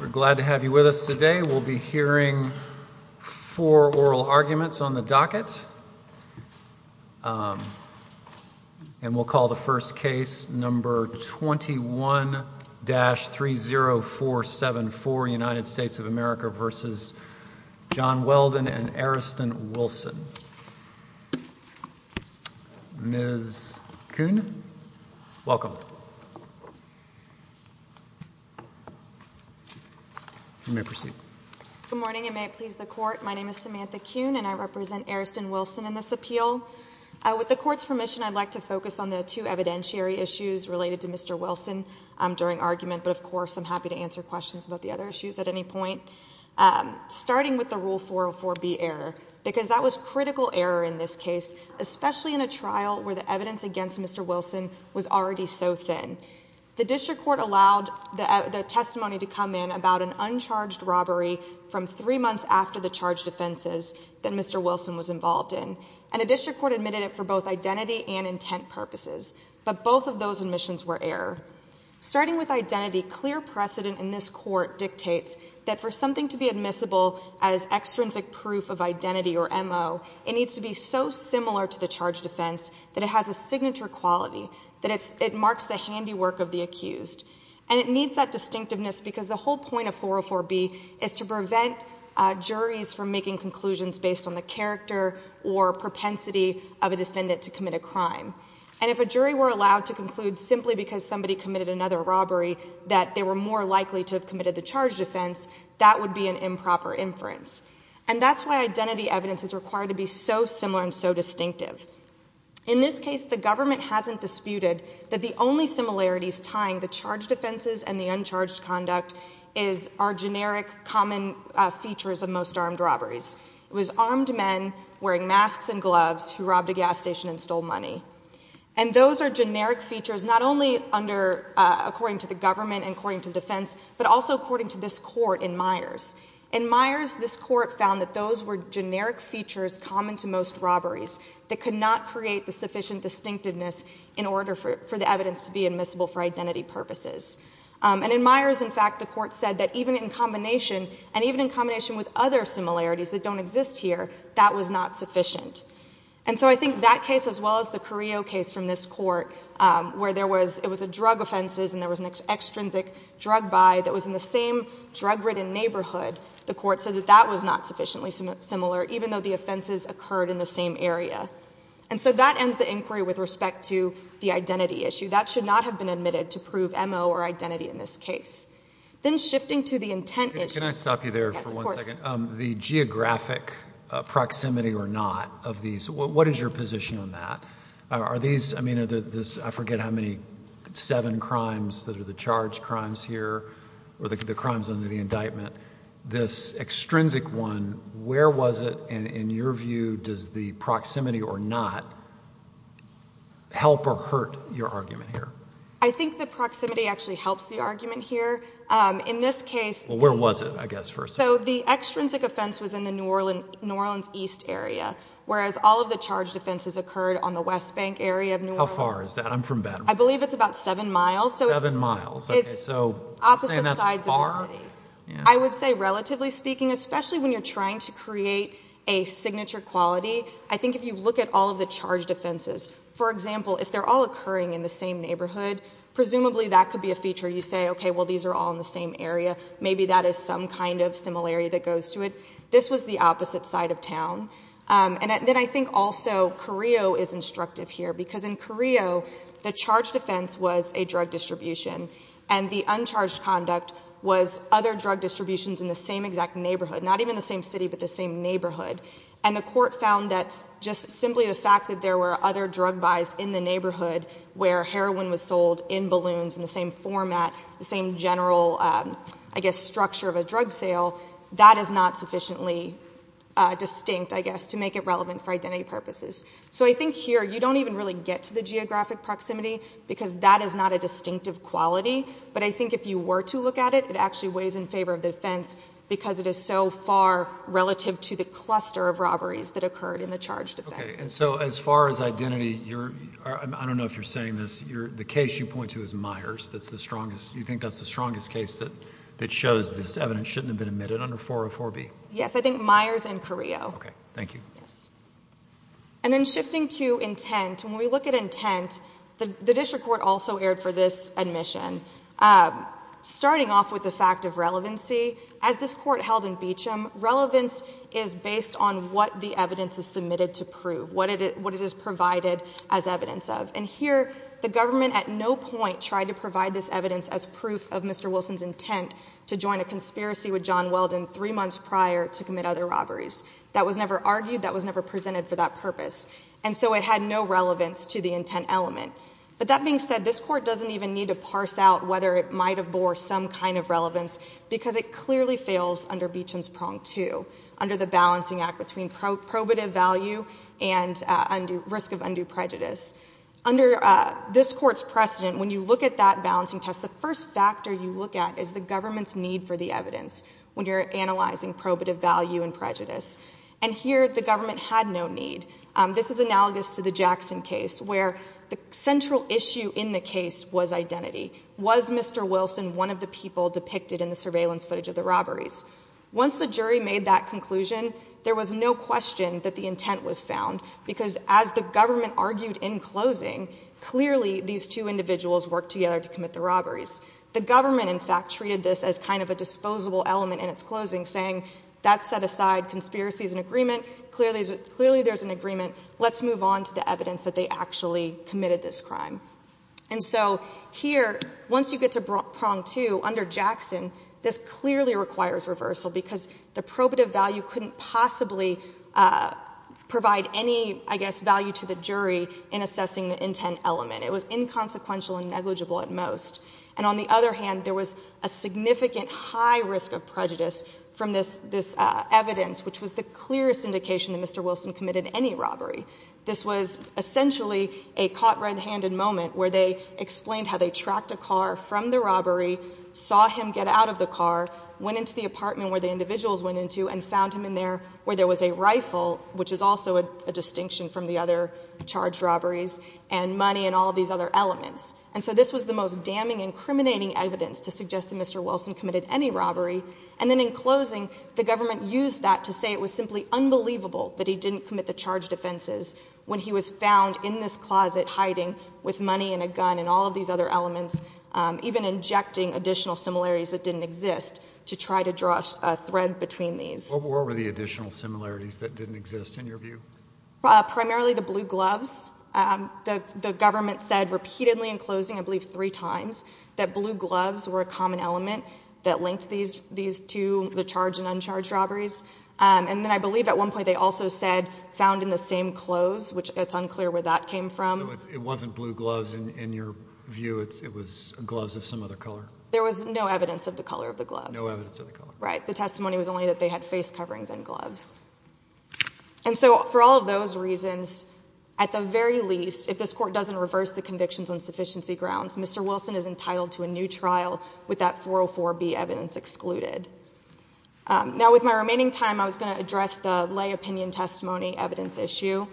We're glad to have you with us today. We'll be hearing four oral arguments on the docket and we'll call the first case number 21-30474 United States of Good morning and may it please the court. My name is Samantha Kuhn and I represent Ariston Wilson in this appeal. With the court's permission I'd like to focus on the two evidentiary issues related to Mr. Wilson during argument but of course I'm happy to answer questions about the other issues at any point. Starting with the rule 404B error because that was critical error in this case especially in a trial where the evidence against Mr. Wilson was already so thin. The testimony to come in about an uncharged robbery from three months after the charge defenses that Mr. Wilson was involved in and the district court admitted it for both identity and intent purposes but both of those admissions were error. Starting with identity clear precedent in this court dictates that for something to be admissible as extrinsic proof of identity or MO it needs to be so similar to the charge defense that it has a signature quality that it marks the handiwork of the accused and it needs that distinctiveness because the whole point of 404B is to prevent juries from making conclusions based on the character or propensity of a defendant to commit a crime and if a jury were allowed to conclude simply because somebody committed another robbery that they were more likely to have committed the charge defense that would be an improper inference and that's why identity evidence is required to be so similar and so distinctive. In this case the government hasn't disputed that the only similarities tying the charge defenses and the uncharged conduct is our generic common features of most armed robberies. It was armed men wearing masks and gloves who robbed a gas station and stole money and those are generic features not only under according to the government and according to defense but also according to this court in Myers. In Myers this court found that those were generic features common to most robberies that could not create the sufficient distinctiveness in order for the evidence to be admissible for identity purposes and in Myers in fact the court said that even in combination and even in combination with other similarities that don't exist here that was not sufficient and so I think that case as well as the Carrillo case from this court where there was it was a drug offenses and there was an extrinsic drug buy that was in the same drug-ridden neighborhood the court said that that was not sufficiently similar even though the offenses occurred in the same area and so that ends the inquiry with respect to the identity issue that should not have been admitted to prove MO or identity in this case. Then shifting to the intent issue. Can I stop you there for one second? The geographic proximity or not of these what is your position on that? Are these I mean are the this I forget how many seven crimes that are the charged crimes here or the crimes under the indictment this extrinsic one where was it and in your view does the proximity or not help or hurt your argument here? I think the proximity actually helps the argument here in this case. Well where was it I guess first? So the extrinsic offense was in the New Orleans East area whereas all of the charged offenses occurred on the West Bank area. How far is that? I'm from Baton Rouge. I believe it's about especially when you're trying to create a signature quality. I think if you look at all of the charge defenses for example if they're all occurring in the same neighborhood presumably that could be a feature you say okay well these are all in the same area maybe that is some kind of similarity that goes to it. This was the opposite side of town and then I think also Carrillo is instructive here because in Carrillo the charge defense was a drug distribution and the neighborhood not even the same city but the same neighborhood and the court found that just simply the fact that there were other drug buys in the neighborhood where heroin was sold in balloons in the same format the same general I guess structure of a drug sale that is not sufficiently distinct I guess to make it relevant for identity purposes. So I think here you don't even really get to the geographic proximity because that is not a distinctive quality but I think if you were to look at it it actually weighs in favor of the so far relative to the cluster of robberies that occurred in the charge defense. Okay and so as far as identity you're I don't know if you're saying this you're the case you point to is Myers that's the strongest you think that's the strongest case that that shows this evidence shouldn't have been admitted under 404 B. Yes I think Myers and Carrillo. Okay thank you. Yes and then shifting to intent when we look at intent the district court also erred for this admission starting off with the fact of relevancy as this court held in Beecham relevance is based on what the evidence is submitted to prove what it is what it is provided as evidence of and here the government at no point tried to provide this evidence as proof of Mr. Wilson's intent to join a conspiracy with John Weldon three months prior to commit other robberies that was never argued that was never presented for that purpose and so it had no relevance to the intent element but that being said this court doesn't even need to parse out whether it might have bore some kind of relevance because it assumes pronged to under the balancing act between probative value and risk of undue prejudice under this court's precedent when you look at that balancing test the first factor you look at is the government's need for the evidence when you're analyzing probative value and prejudice and here the government had no need this is analogous to the Jackson case where the central issue in the case was identity was Mr. Wilson one of the people depicted in the surveillance footage of the robberies once the jury made that conclusion there was no question that the intent was found because as the government argued in closing clearly these two individuals work together to commit the robberies the government in fact treated this as kind of a disposable element in its closing saying that set aside conspiracies and agreement clearly clearly there's an agreement let's move on to the evidence that they actually committed this crime and so here once you get to prong to under Jackson this clearly requires reversal because the probative value couldn't possibly provide any I guess value to the jury in assessing the intent element it was inconsequential and negligible at most and on the other hand there was a significant high risk of prejudice from this this evidence which was the clearest indication that Mr. Wilson committed any robbery this was essentially a caught red-handed moment where they explained how they tracked a car from the robbery saw him get out of the car went into the apartment where the individuals went into and found him in there where there was a rifle which is also a distinction from the other charged robberies and money and all these other elements and so this was the most damning incriminating evidence to suggest that Mr. Wilson committed any robbery and then in closing the believable that he didn't commit the charge offenses when he was found in this closet hiding with money and a gun and all of these other elements even injecting additional similarities that didn't exist to try to draw a thread between these over the additional similarities that didn't exist in your view primarily the blue gloves the government said repeatedly in closing I believe three times that blue gloves were a common element that linked these to the charge and uncharged robberies and then I believe at one point they also said found in the same clothes which that's unclear where that came from it wasn't blue gloves in your view it was gloves of some other color there was no evidence of the color of the glove right the testimony was only that they had face coverings and gloves and so for all of those reasons at the very least if this court doesn't reverse the convictions on sufficiency grounds mr. Wilson is entitled to a new trial with that 404 be evidence excluded now with my remaining time I was going to address the lay opinion testimony evidence issue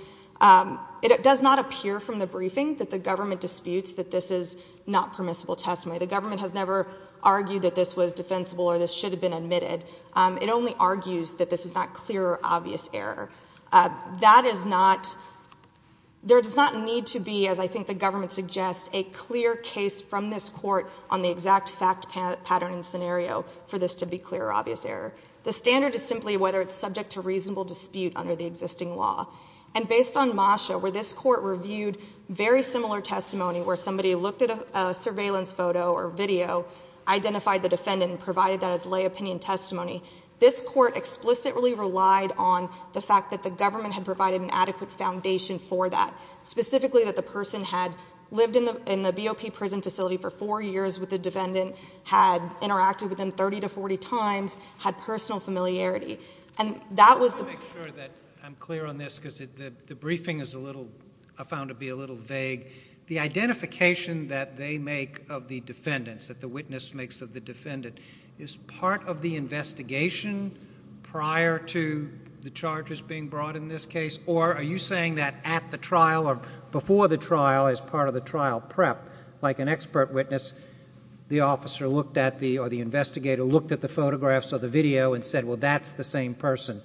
it does not appear from the briefing that the government disputes that this is not permissible testimony the government has never argued that this was defensible or this should have been admitted it only argues that this is not clear obvious error that is not there does not need to be as I think the case from this court on the exact fact pattern and scenario for this to be clear obvious error the standard is simply whether it's subject to reasonable dispute under the existing law and based on Masha where this court reviewed very similar testimony where somebody looked at a surveillance photo or video identified the defendant and provided that as lay opinion testimony this court explicitly relied on the fact that the government had provided an adequate foundation for that specifically that the person had lived in the in the BOP prison facility for four years with the defendant had interacted with them 30 to 40 times had personal familiarity and that was the make sure that I'm clear on this because the briefing is a little I found to be a little vague the identification that they make of the defendants that the witness makes of the defendant is part of the investigation prior to the charges being brought in this case or are you saying that at the trial or before the trial as part of the trial prep like an expert witness the officer looked at the or the investigator looked at the photographs or the video and said well that's the same person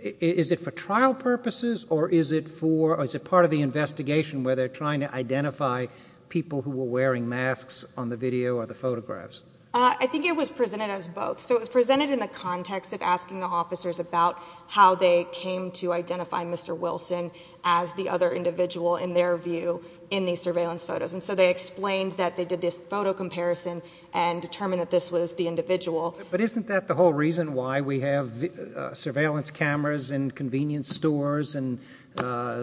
is it for trial purposes or is it for as a part of the investigation where they're trying to identify people who were wearing masks on the video or the photographs I think it was presented as both so it was presented in the context of asking the officers about how they came to identify mr. Wilson as the other individual in their view in these surveillance photos and so they explained that they did this photo comparison and determine that this was the individual but isn't that the whole reason why we have surveillance cameras and convenience stores and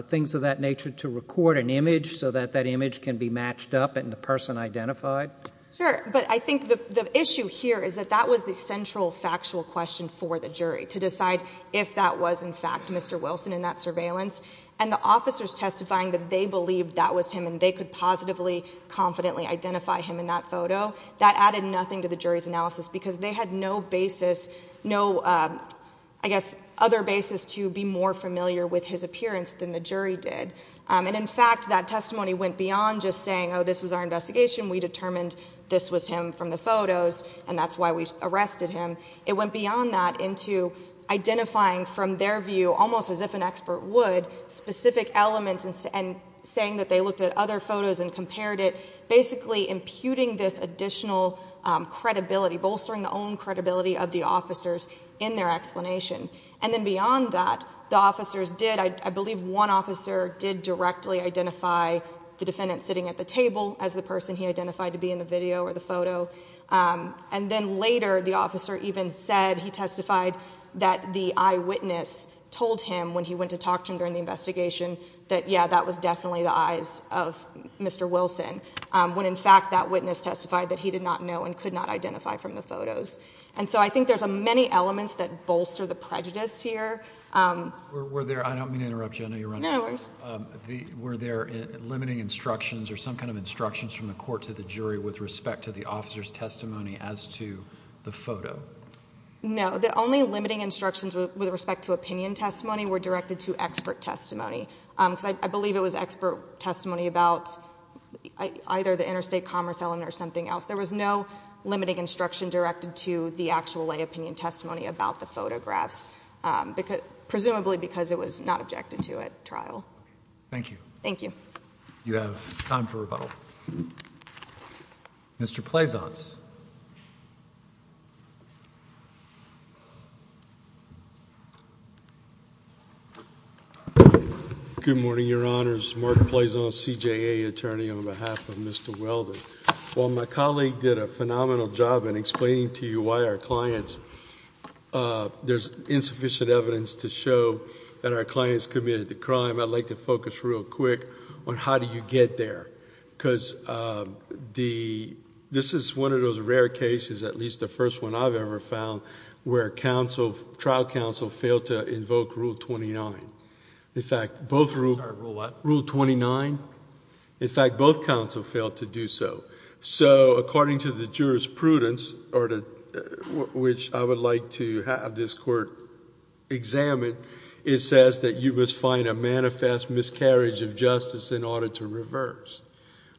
things of that nature to record an image so that that image can be matched up and the person identified sure but I think the issue here is that that was the central factual question for the jury to surveillance and the officers testifying that they believe that was him and they could positively confidently identify him in that photo that added nothing to the jury's analysis because they had no basis no I guess other basis to be more familiar with his appearance than the jury did and in fact that testimony went beyond just saying oh this was our investigation we determined this was him from the photos and that's why we arrested him it went beyond that into identifying from their view almost as if an expert would specific elements and saying that they looked at other photos and compared it basically imputing this additional credibility bolstering the own credibility of the officers in their explanation and then beyond that the officers did I believe one officer did directly identify the defendant sitting at the table as the person he identified to be in the video or the photo and then later the officer even said he testified that the eyewitness told him when he went to talk to him during the investigation that yeah that was definitely the eyes of Mr. Wilson when in fact that witness testified that he did not know and could not identify from the photos and so I think there's a many elements that bolster the prejudice here were there I don't mean to interrupt you I know you're running out of words were there limiting instructions or some kind of instructions from the court to the jury with respect to the officers testimony as to the photo no the only limiting instructions with respect to opinion testimony were directed to expert testimony because I believe it was expert testimony about either the interstate commerce element or something else there was no limiting instruction directed to the actual lay opinion testimony about the photographs because presumably because it was not Mr. Pleasance good morning your honors Mark Pleasance CJA attorney on behalf of Mr. Weldon while my colleague did a phenomenal job in explaining to you why our clients there's insufficient evidence to show that our clients committed the crime I'd like to focus real quick on how do you get there because the this is one of those rare cases at least the first one I've ever found where counsel trial counsel failed to invoke rule 29 in fact both rule rule 29 in fact both counsel failed to do so so according to the jurisprudence or to which I would like to have this court examine it says that you must find a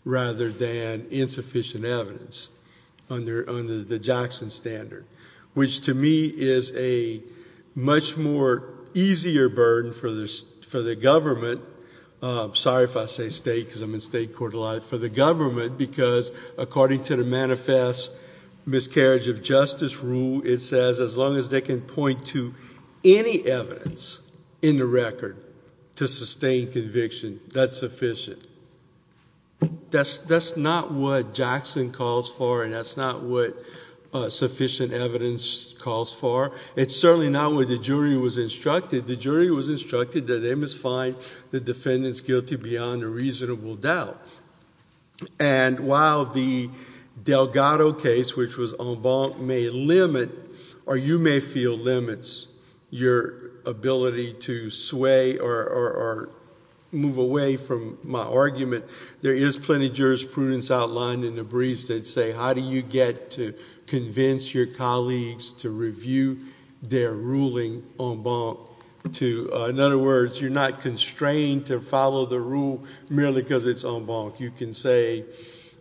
rather than insufficient evidence under under the Jackson standard which to me is a much more easier burden for this for the government sorry if I say state because I'm in state court alive for the government because according to the manifest miscarriage of justice rule it says as long as they can point to any evidence in the record to sustain conviction that's sufficient that's that's not what Jackson calls for and that's not what sufficient evidence calls for it's certainly not what the jury was instructed the jury was instructed that they must find the defendants guilty beyond a reasonable doubt and while the Delgado case which was on bond may limit or you may feel limits your ability to sway or move away from my argument there is plenty jurisprudence outlined in the briefs that say how do you get to convince your colleagues to review their ruling on bond to in other words you're not constrained to follow the rule merely because it's on bond you can say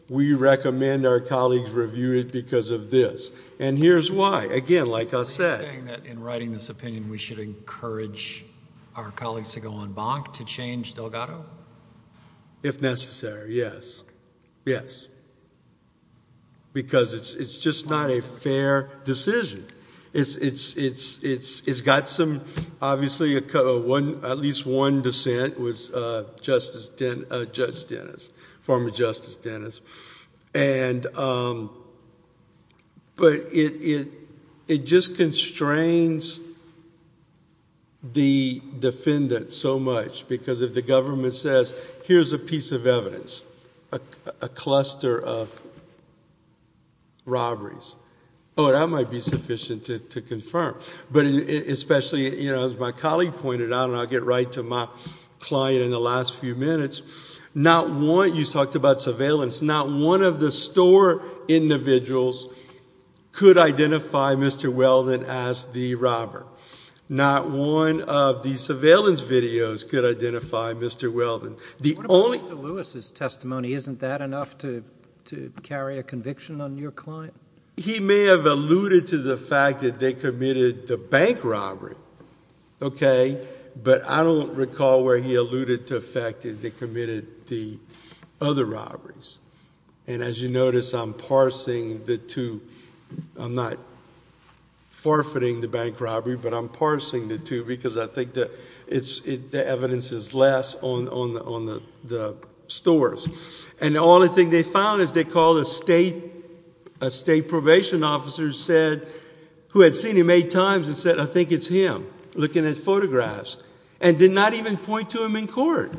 we recommend our colleagues review it because of this and here's why again like I said that in writing this opinion we should encourage our colleagues to go on bonk to change Delgado if necessary yes yes because it's it's just not a fair decision it's it's it's it's it's got some obviously a cover one at least one dissent was justice then Judge Dennis former Justice Dennis and but it it just constrains the defendant so much because if the government says here's a piece of evidence a cluster of robberies oh that might be sufficient to confirm but especially you know as my colleague pointed out and I'll get right to my client in the last few minutes not want you talked about surveillance not one of the store individuals could identify mr. Weldon as the robber not one of the surveillance videos could identify mr. Weldon the only Lewis's testimony isn't that enough to to carry a conviction on your client he may have alluded to the fact that they committed the bank robbery okay but I don't recall where he noticed I'm parsing the two I'm not forfeiting the bank robbery but I'm parsing the two because I think that it's the evidence is less on on the on the the stores and the only thing they found is they call the state a state probation officer said who had seen him eight times and said I think it's him looking at photographs and did not even point to him in court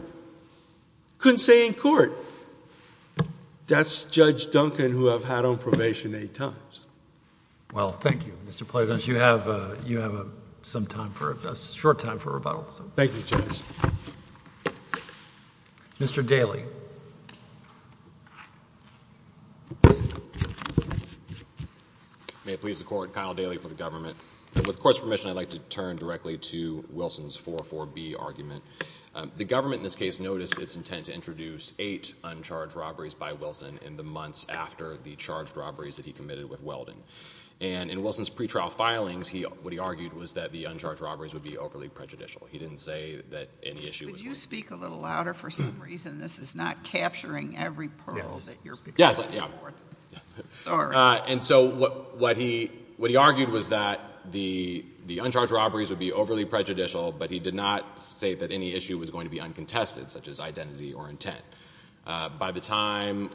couldn't say in that's judge Duncan who have had on probation eight times well thank you mr. Pleasant you have you have a some time for a short time for rebuttal so thank you mr. Daly may it please the court Kyle Daly for the government with courts permission I'd like to turn directly to Wilson's 4-4-b argument the uncharged robberies by Wilson in the months after the charged robberies that he committed with Weldon and in Wilson's pretrial filings he what he argued was that the uncharged robberies would be overly prejudicial he didn't say that any issue would you speak a little louder for some reason this is not capturing every yes yeah and so what what he what he argued was that the the uncharged robberies would be overly prejudicial but he did not say that any issue was going to be uncontested such as identity or intent by the time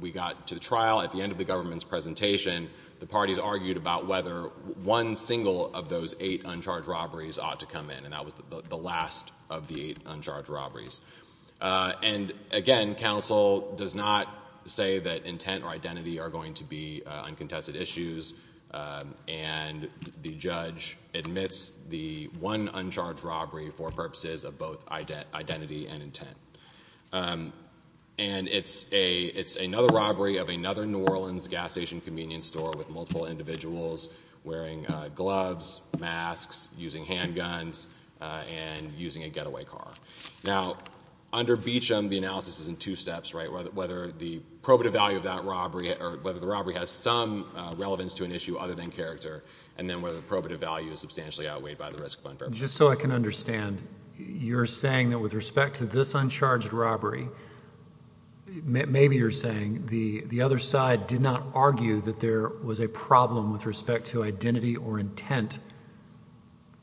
we got to the trial at the end of the government's presentation the parties argued about whether one single of those eight uncharged robberies ought to come in and that was the last of the eight uncharged robberies and again counsel does not say that intent or identity are going to be uncontested issues and the identity and intent and it's a it's another robbery of another New Orleans gas station convenience store with multiple individuals wearing gloves masks using handguns and using a getaway car now under beach on the analysis is in two steps right whether the probative value of that robbery or whether the robbery has some relevance to an issue other than character and then whether probative value is substantially outweighed by the risk of unfair just so I can understand you're saying that with respect to this uncharged robbery maybe you're saying the the other side did not argue that there was a problem with respect to identity or intent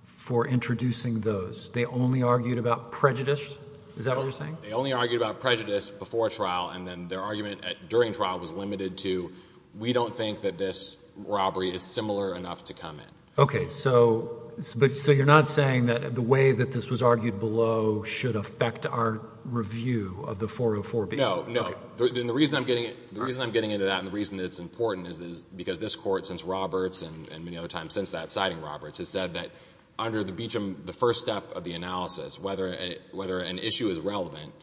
for introducing those they only argued about prejudice is that what you're saying they only argued about prejudice before trial and then their argument at during trial was limited to we don't think that this robbery is similar enough to come in okay so but so you're not saying that the way that this was argued below should affect our review of the 404 be no no the reason I'm getting it the reason I'm getting into that and the reason it's important is this because this court since Roberts and many other times since that citing Roberts has said that under the Beacham the first step of the analysis whether whether an issue is relevant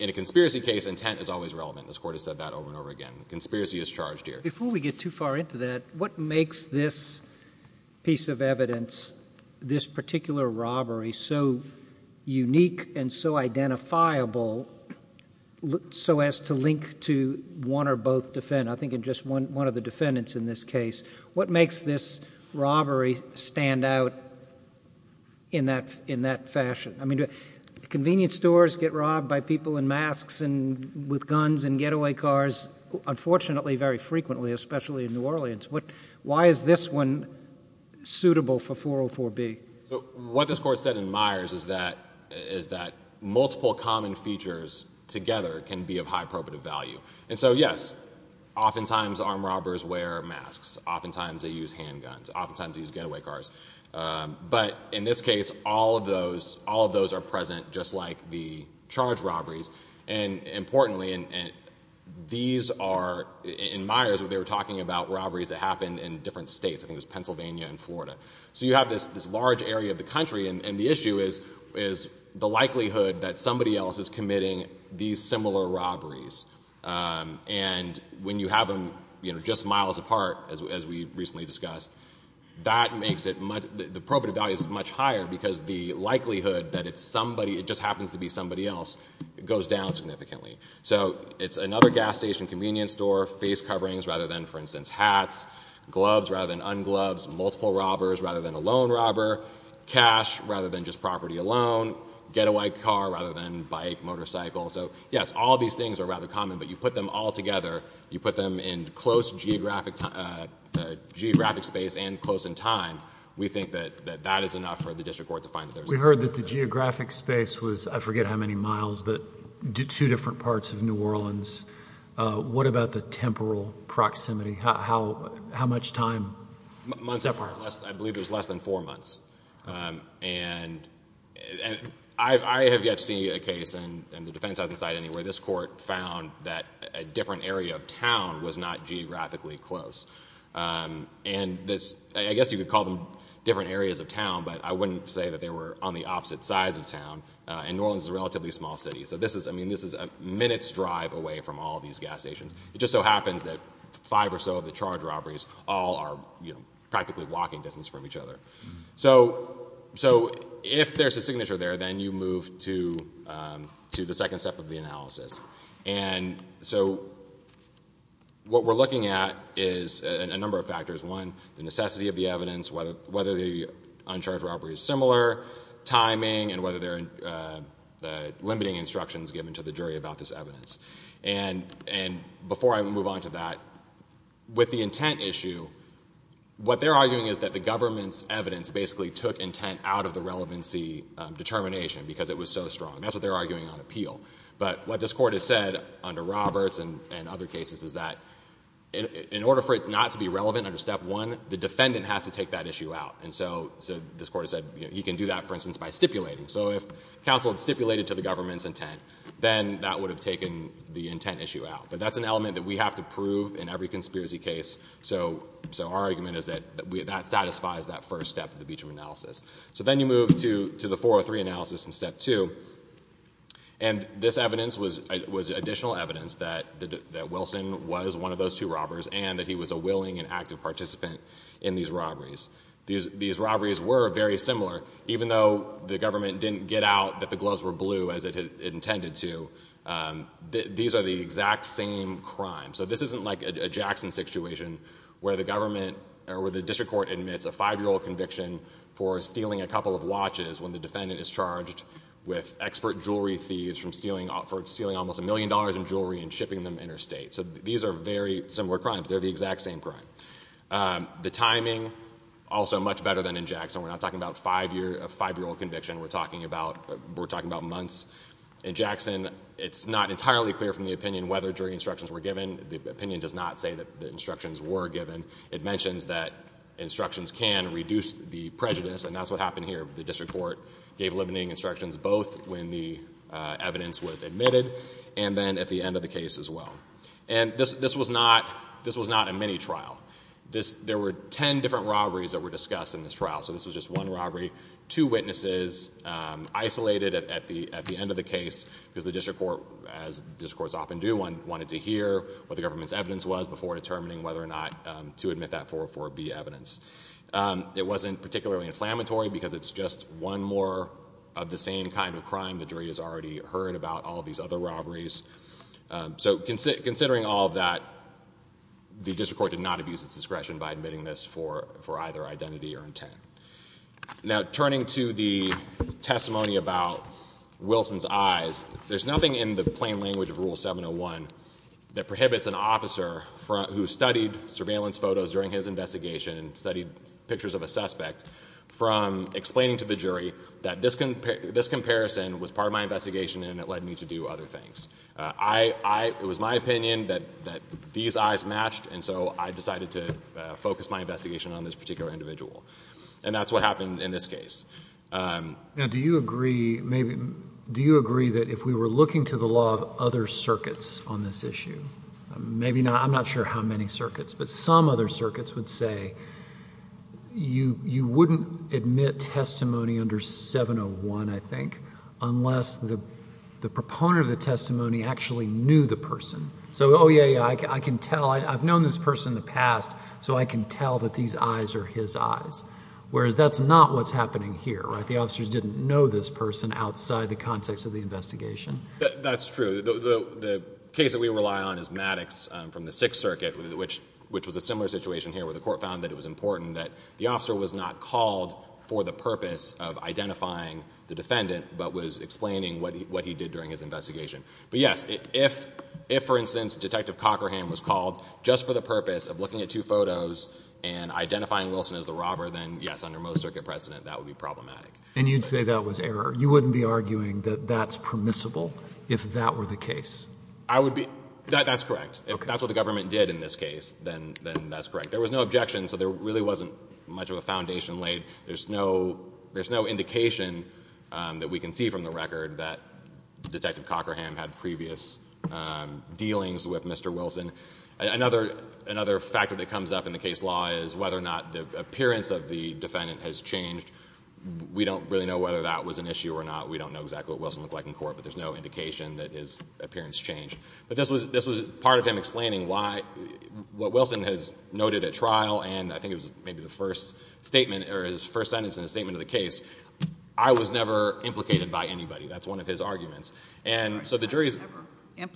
in a conspiracy case intent is always relevant this court has said that over and over again conspiracy is charged here before we get too far into that what makes this piece of evidence this particular robbery so unique and so identifiable look so as to link to one or both defend I think in just one one of the defendants in this case what makes this robbery stand out in that in that fashion I mean convenience stores get robbed by people in masks and with guns and getaway cars unfortunately very for be what this court said in Myers is that is that multiple common features together can be of high probative value and so yes oftentimes armed robbers wear masks oftentimes they use handguns oftentimes these getaway cars but in this case all of those all of those are present just like the charge robberies and importantly and these are in Myers what they were talking about robberies that happened in different states I think it's Pennsylvania and Florida so you have this this large area of the country and the issue is is the likelihood that somebody else is committing these similar robberies and when you have them you know just miles apart as we recently discussed that makes it much the probative value is much higher because the likelihood that it's somebody it just happens to be somebody else it goes down significantly so it's another gas station convenience store face coverings rather than for multiple robbers rather than a lone robber cash rather than just property alone getaway car rather than bike motorcycle so yes all these things are rather common but you put them all together you put them in close geographic geographic space and close in time we think that that is enough for the district court to find that we heard that the geographic space was I forget how many miles but two different parts of New Orleans what about the temporal proximity how how much time I believe there's less than four months and I have yet to see a case and the defense hasn't side anywhere this court found that a different area of town was not geographically close and this I guess you could call them different areas of town but I wouldn't say that they were on the opposite sides of town and New Orleans is a relatively small city so this is I mean this is a minute's drive away from all these gas stations it just so happens that five or so of the charge robberies all are you know practically walking distance from each other so so if there's a signature there then you move to to the second step of the analysis and so what we're looking at is a number of factors one the necessity of the evidence whether whether the uncharged robbery is similar timing and whether they're limiting instructions given to the jury about this evidence and and before I move on to that with the intent issue what they're arguing is that the government's evidence basically took intent out of the relevancy determination because it was so strong that's what they're arguing on appeal but what this court has said under Roberts and and other cases is that in order for it not to be relevant under step one the defendant has to take that issue out and so so this court said you can do that for instance by stipulating so if counsel stipulated to the government's intent then that would have taken the intent issue out but that's an element that we have to prove in every conspiracy case so so our argument is that that satisfies that first step of the Beacham analysis so then you move to to the 403 analysis in step two and this evidence was was additional evidence that the Wilson was one of those two robbers and that he was a willing and active participant in these robberies these these robberies were very similar even though the government didn't get out that the gloves were blue as it intended to these are the exact same crime so this isn't like a Jackson situation where the government or where the district court admits a five-year-old conviction for stealing a couple of watches when the defendant is charged with expert jewelry thieves from stealing offered stealing almost a million dollars in jewelry and shipping them interstate so these are very similar crimes they're the exact same crime the timing also much better than in Jackson we're not talking about five year a five-year-old conviction we're talking about we're talking about months in Jackson it's not entirely clear from the opinion whether jury instructions were given the opinion does not say that the instructions were given it mentions that instructions can reduce the prejudice and that's what happened here the district court gave limiting instructions both when the evidence was admitted and then at the end of the case as well and this this was not this was not a mini trial this there were ten different robberies that were discussed in this trial so this was just one robbery two witnesses isolated at the at the end of the case because the district court as this courts often do one wanted to hear what the government's evidence was before determining whether or not to admit that 404 B evidence it wasn't particularly inflammatory because it's just one more of the same kind of crime the jury has already heard about all these other robberies so consider considering all that the district court did not abuse its discretion by admitting this for for identity or intent now turning to the testimony about Wilson's eyes there's nothing in the plain language of rule 701 that prohibits an officer front who studied surveillance photos during his investigation and studied pictures of a suspect from explaining to the jury that this can this comparison was part of my investigation and it led me to do other things I it was my opinion that that these eyes matched and so I decided to focus my investigation on this particular individual and that's what happened in this case now do you agree maybe do you agree that if we were looking to the law of other circuits on this issue maybe not I'm not sure how many circuits but some other circuits would say you you wouldn't admit testimony under 701 I think unless the proponent of the testimony actually knew the person so oh yeah I can tell I've his eyes whereas that's not what's happening here right the officers didn't know this person outside the context of the investigation that's true the case that we rely on is Maddox from the Sixth Circuit which which was a similar situation here where the court found that it was important that the officer was not called for the purpose of identifying the defendant but was explaining what he what he did during his investigation but yes if if for instance detective Cochran was called just for the purpose of looking at two as the robber then yes under most circuit precedent that would be problematic and you'd say that was error you wouldn't be arguing that that's permissible if that were the case I would be that's correct if that's what the government did in this case then then that's correct there was no objection so there really wasn't much of a foundation laid there's no there's no indication that we can see from the record that detective Cochran had previous dealings with mr. Wilson another another factor that comes up in the case law is whether or not the appearance of the defendant has changed we don't really know whether that was an issue or not we don't know exactly what Wilson look like in court but there's no indication that his appearance changed but this was this was part of him explaining why what Wilson has noted at trial and I think it was maybe the first statement or his first sentence in a statement of the case I was never implicated by anybody that's one of his arguments and so the jury's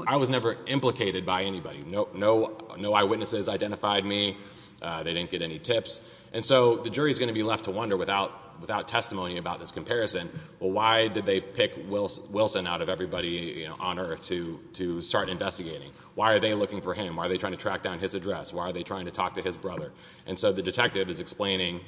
I was never implicated by anybody no no no witnesses identified me they didn't get any tips and so the jury is going to be left to wonder without without testimony about this comparison well why did they pick Wilson out of everybody you know on earth to to start investigating why are they looking for him are they trying to track down his address why are they trying to talk to his brother and so the detective is explaining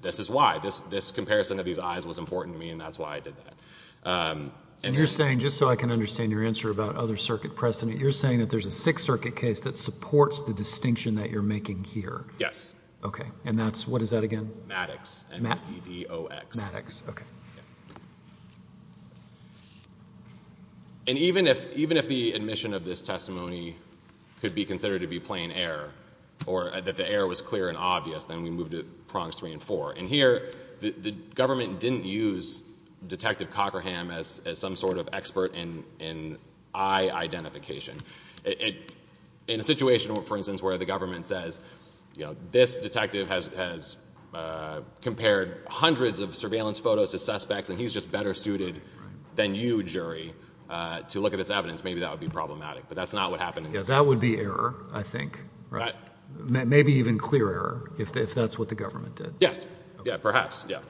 this is why this this comparison of these eyes was important to me and that's why I did that and you're saying just so I can understand your answer about other circuit precedent you're saying that there's a Sixth Circuit case that supports the distinction that you're making here yes okay and that's what is that again Maddox and that you do X Maddox okay and even if even if the admission of this testimony could be considered to be plain air or that the air was clear and obvious then we moved it prongs three and four and here the government didn't use detective Cockerham as some sort of expert in in identification it in a situation for instance where the government says you know this detective has has compared hundreds of surveillance photos to suspects and he's just better suited than you jury to look at this evidence maybe that would be problematic but that's not what happened if that would be error I think right maybe even clear error if that's what the government did yes yeah perhaps yeah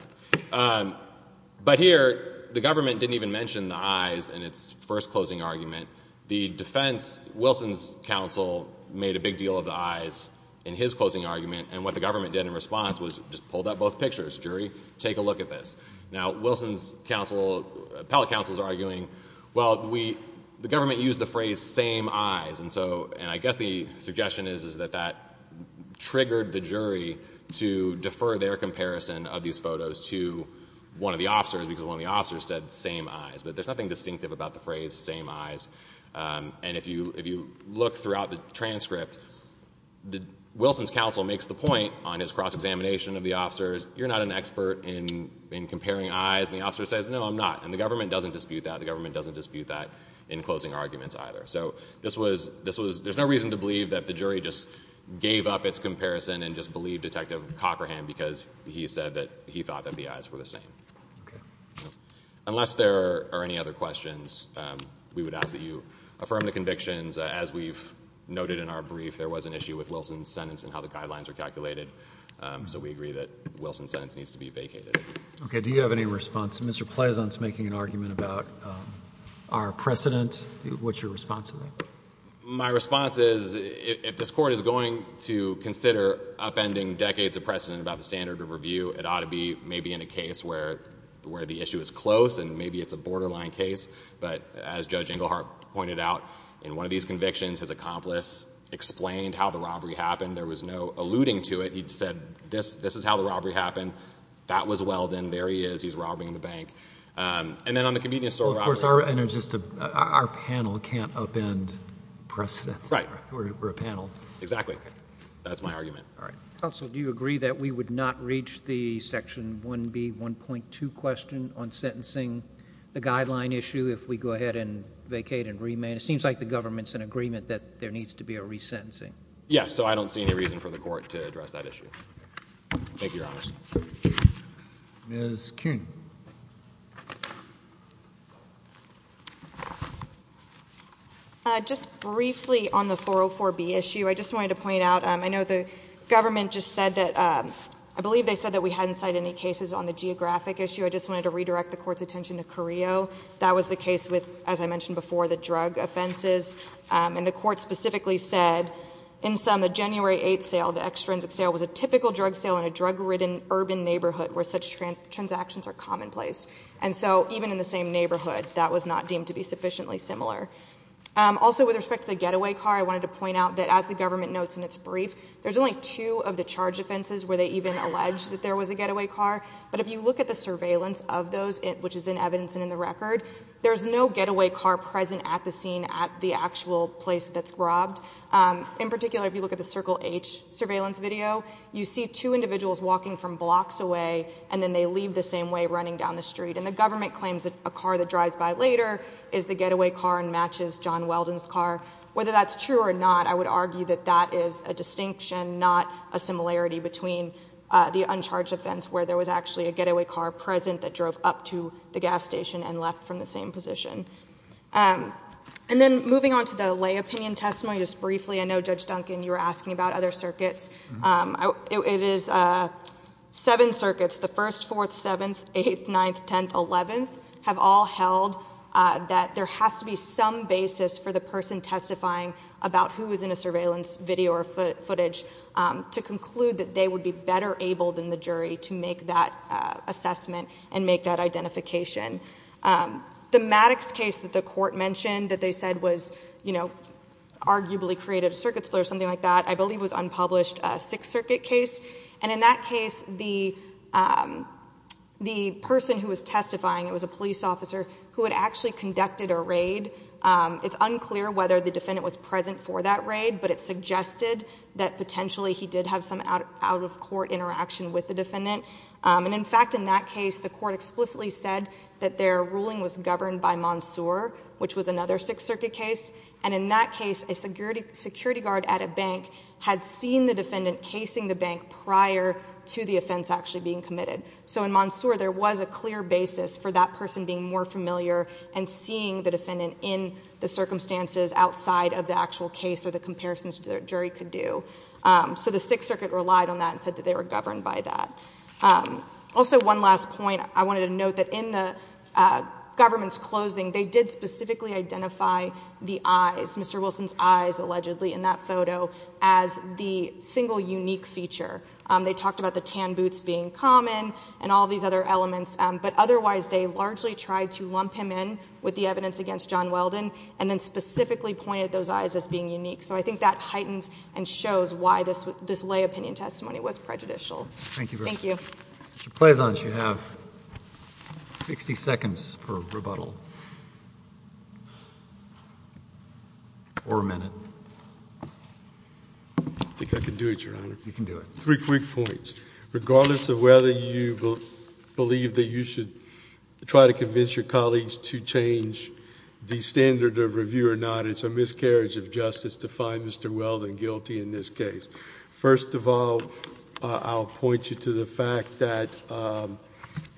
but here the government didn't even mention the eyes and it's first closing argument the defense Wilson's counsel made a big deal of the eyes in his closing argument and what the government did in response was just pulled up both pictures jury take a look at this now Wilson's counsel appellate counsels are arguing well we the government used the phrase same eyes and so and I guess the suggestion is is that that triggered the jury to defer their comparison of these photos to one of the officers because one of the officers said same eyes but there's nothing distinctive about the phrase same eyes and if you if you look throughout the transcript the Wilson's counsel makes the point on his cross-examination of the officers you're not an expert in in comparing eyes and the officer says no I'm not and the government doesn't dispute that the government doesn't dispute that in closing arguments either so this was this was there's no reason to believe that the jury just gave up its comparison and just believe detective Cochran because he said that he thought that the eyes were the same unless there are any other questions we would ask that you affirm the convictions as we've noted in our brief there was an issue with Wilson's sentence and how the guidelines are calculated so we agree that Wilson's sentence needs to be vacated okay do you have any response mr. Pleasant's making an argument about our precedent what's your response to me my response is if this court is going to precedent about the standard of review it ought to be maybe in a case where where the issue is close and maybe it's a borderline case but as judge Engelhardt pointed out in one of these convictions his accomplice explained how the robbery happened there was no alluding to it he'd said this this is how the robbery happened that was well then there he is he's robbing the bank and then on the convenience store of course our energies to our panel can't upend precedent right exactly that's my argument all right also do you agree that we would not reach the section 1 b 1.2 question on sentencing the guideline issue if we go ahead and vacate and remain it seems like the government's an agreement that there needs to be a resentencing yes so I don't see any reason for the court to I just wanted to point out I know the government just said that I believe they said that we hadn't cite any cases on the geographic issue I just wanted to redirect the court's attention to Korea that was the case with as I mentioned before the drug offenses and the court specifically said in some the January 8th sale the extrinsic sale was a typical drug sale in a drug-ridden urban neighborhood where such trans transactions are commonplace and so even in the same neighborhood that was not deemed to be sufficiently similar also with respect to the getaway car I wanted to point out that as the government notes in its brief there's only two of the charge offenses where they even alleged that there was a getaway car but if you look at the surveillance of those in which is in evidence and in the record there's no getaway car present at the scene at the actual place that's robbed in particular if you look at the circle H surveillance video you see two individuals walking from blocks away and then they leave the same way running down the street and the government claims that a car that drives by later is the getaway car and matches John Weldon's car whether that's true or not I would argue that that is a distinction not a similarity between the uncharged offense where there was actually a getaway car present that drove up to the gas station and left from the same position and then moving on to the lay opinion testimony just briefly I know judge Duncan you were asking about other circuits it is a seven circuits the first fourth seventh eighth ninth tenth eleventh have all held that there has to be some basis for the person testifying about who is in a surveillance video or footage to conclude that they would be better able than the jury to make that assessment and make that identification the Maddox case that the court mentioned that they said was you know arguably created a circuit split or something like that I believe was unpublished Sixth Circuit case and in that case the the person who was testifying it was a police officer who had actually conducted a raid it's unclear whether the defendant was present for that raid but it suggested that potentially he did have some out of court interaction with the defendant and in fact in that case the court explicitly said that their ruling was governed by Mansour which was another Sixth Circuit case and in that case a security security guard at a bank had seen the defendant casing the bank prior to the offense actually being committed so in Mansour there was a clear basis for that person being more familiar and seeing the defendant in the circumstances outside of the actual case or the comparisons to the jury could do so the Sixth Circuit relied on that and said that they were governed by that also one last point I wanted to note that in the government's closing they did specifically identify the eyes mr. Wilson's eyes allegedly in that photo as the single unique feature they talked about the tan boots being common and all these other elements but otherwise they largely tried to lump him in with the evidence against John Weldon and then specifically pointed those eyes as being unique so I think that heightens and shows why this was this lay opinion testimony was prejudicial thank you thank you mr. Pleasant you have 60 seconds per rebuttal or a minute I think three quick points regardless of whether you believe that you should try to convince your colleagues to change the standard of review or not it's a miscarriage of justice to find mr. Weldon guilty in this case first of all I'll point you to the fact that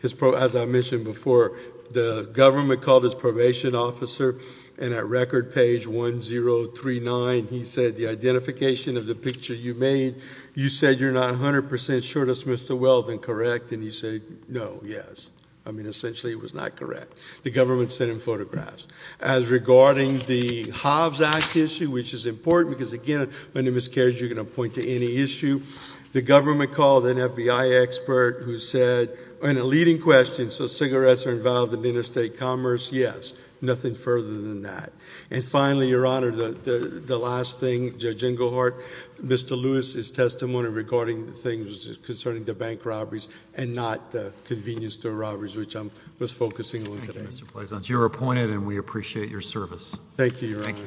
his pro as I mentioned before the government called his probation officer and at record page 1 0 3 9 he said the you said you're not 100% sure dismissed the well then correct and he said no yes I mean essentially it was not correct the government sent him photographs as regarding the Hobbs Act issue which is important because again when it miscares you're going to point to any issue the government called an FBI expert who said in a leading question so cigarettes are involved in interstate commerce yes nothing further than that and finally your honor the the last thing judge testimony regarding the things concerning the bank robberies and not the convenience to robberies which I'm just focusing on today mr. Pleasant you were appointed and we appreciate your service thank you thank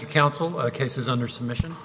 you counsel cases under submission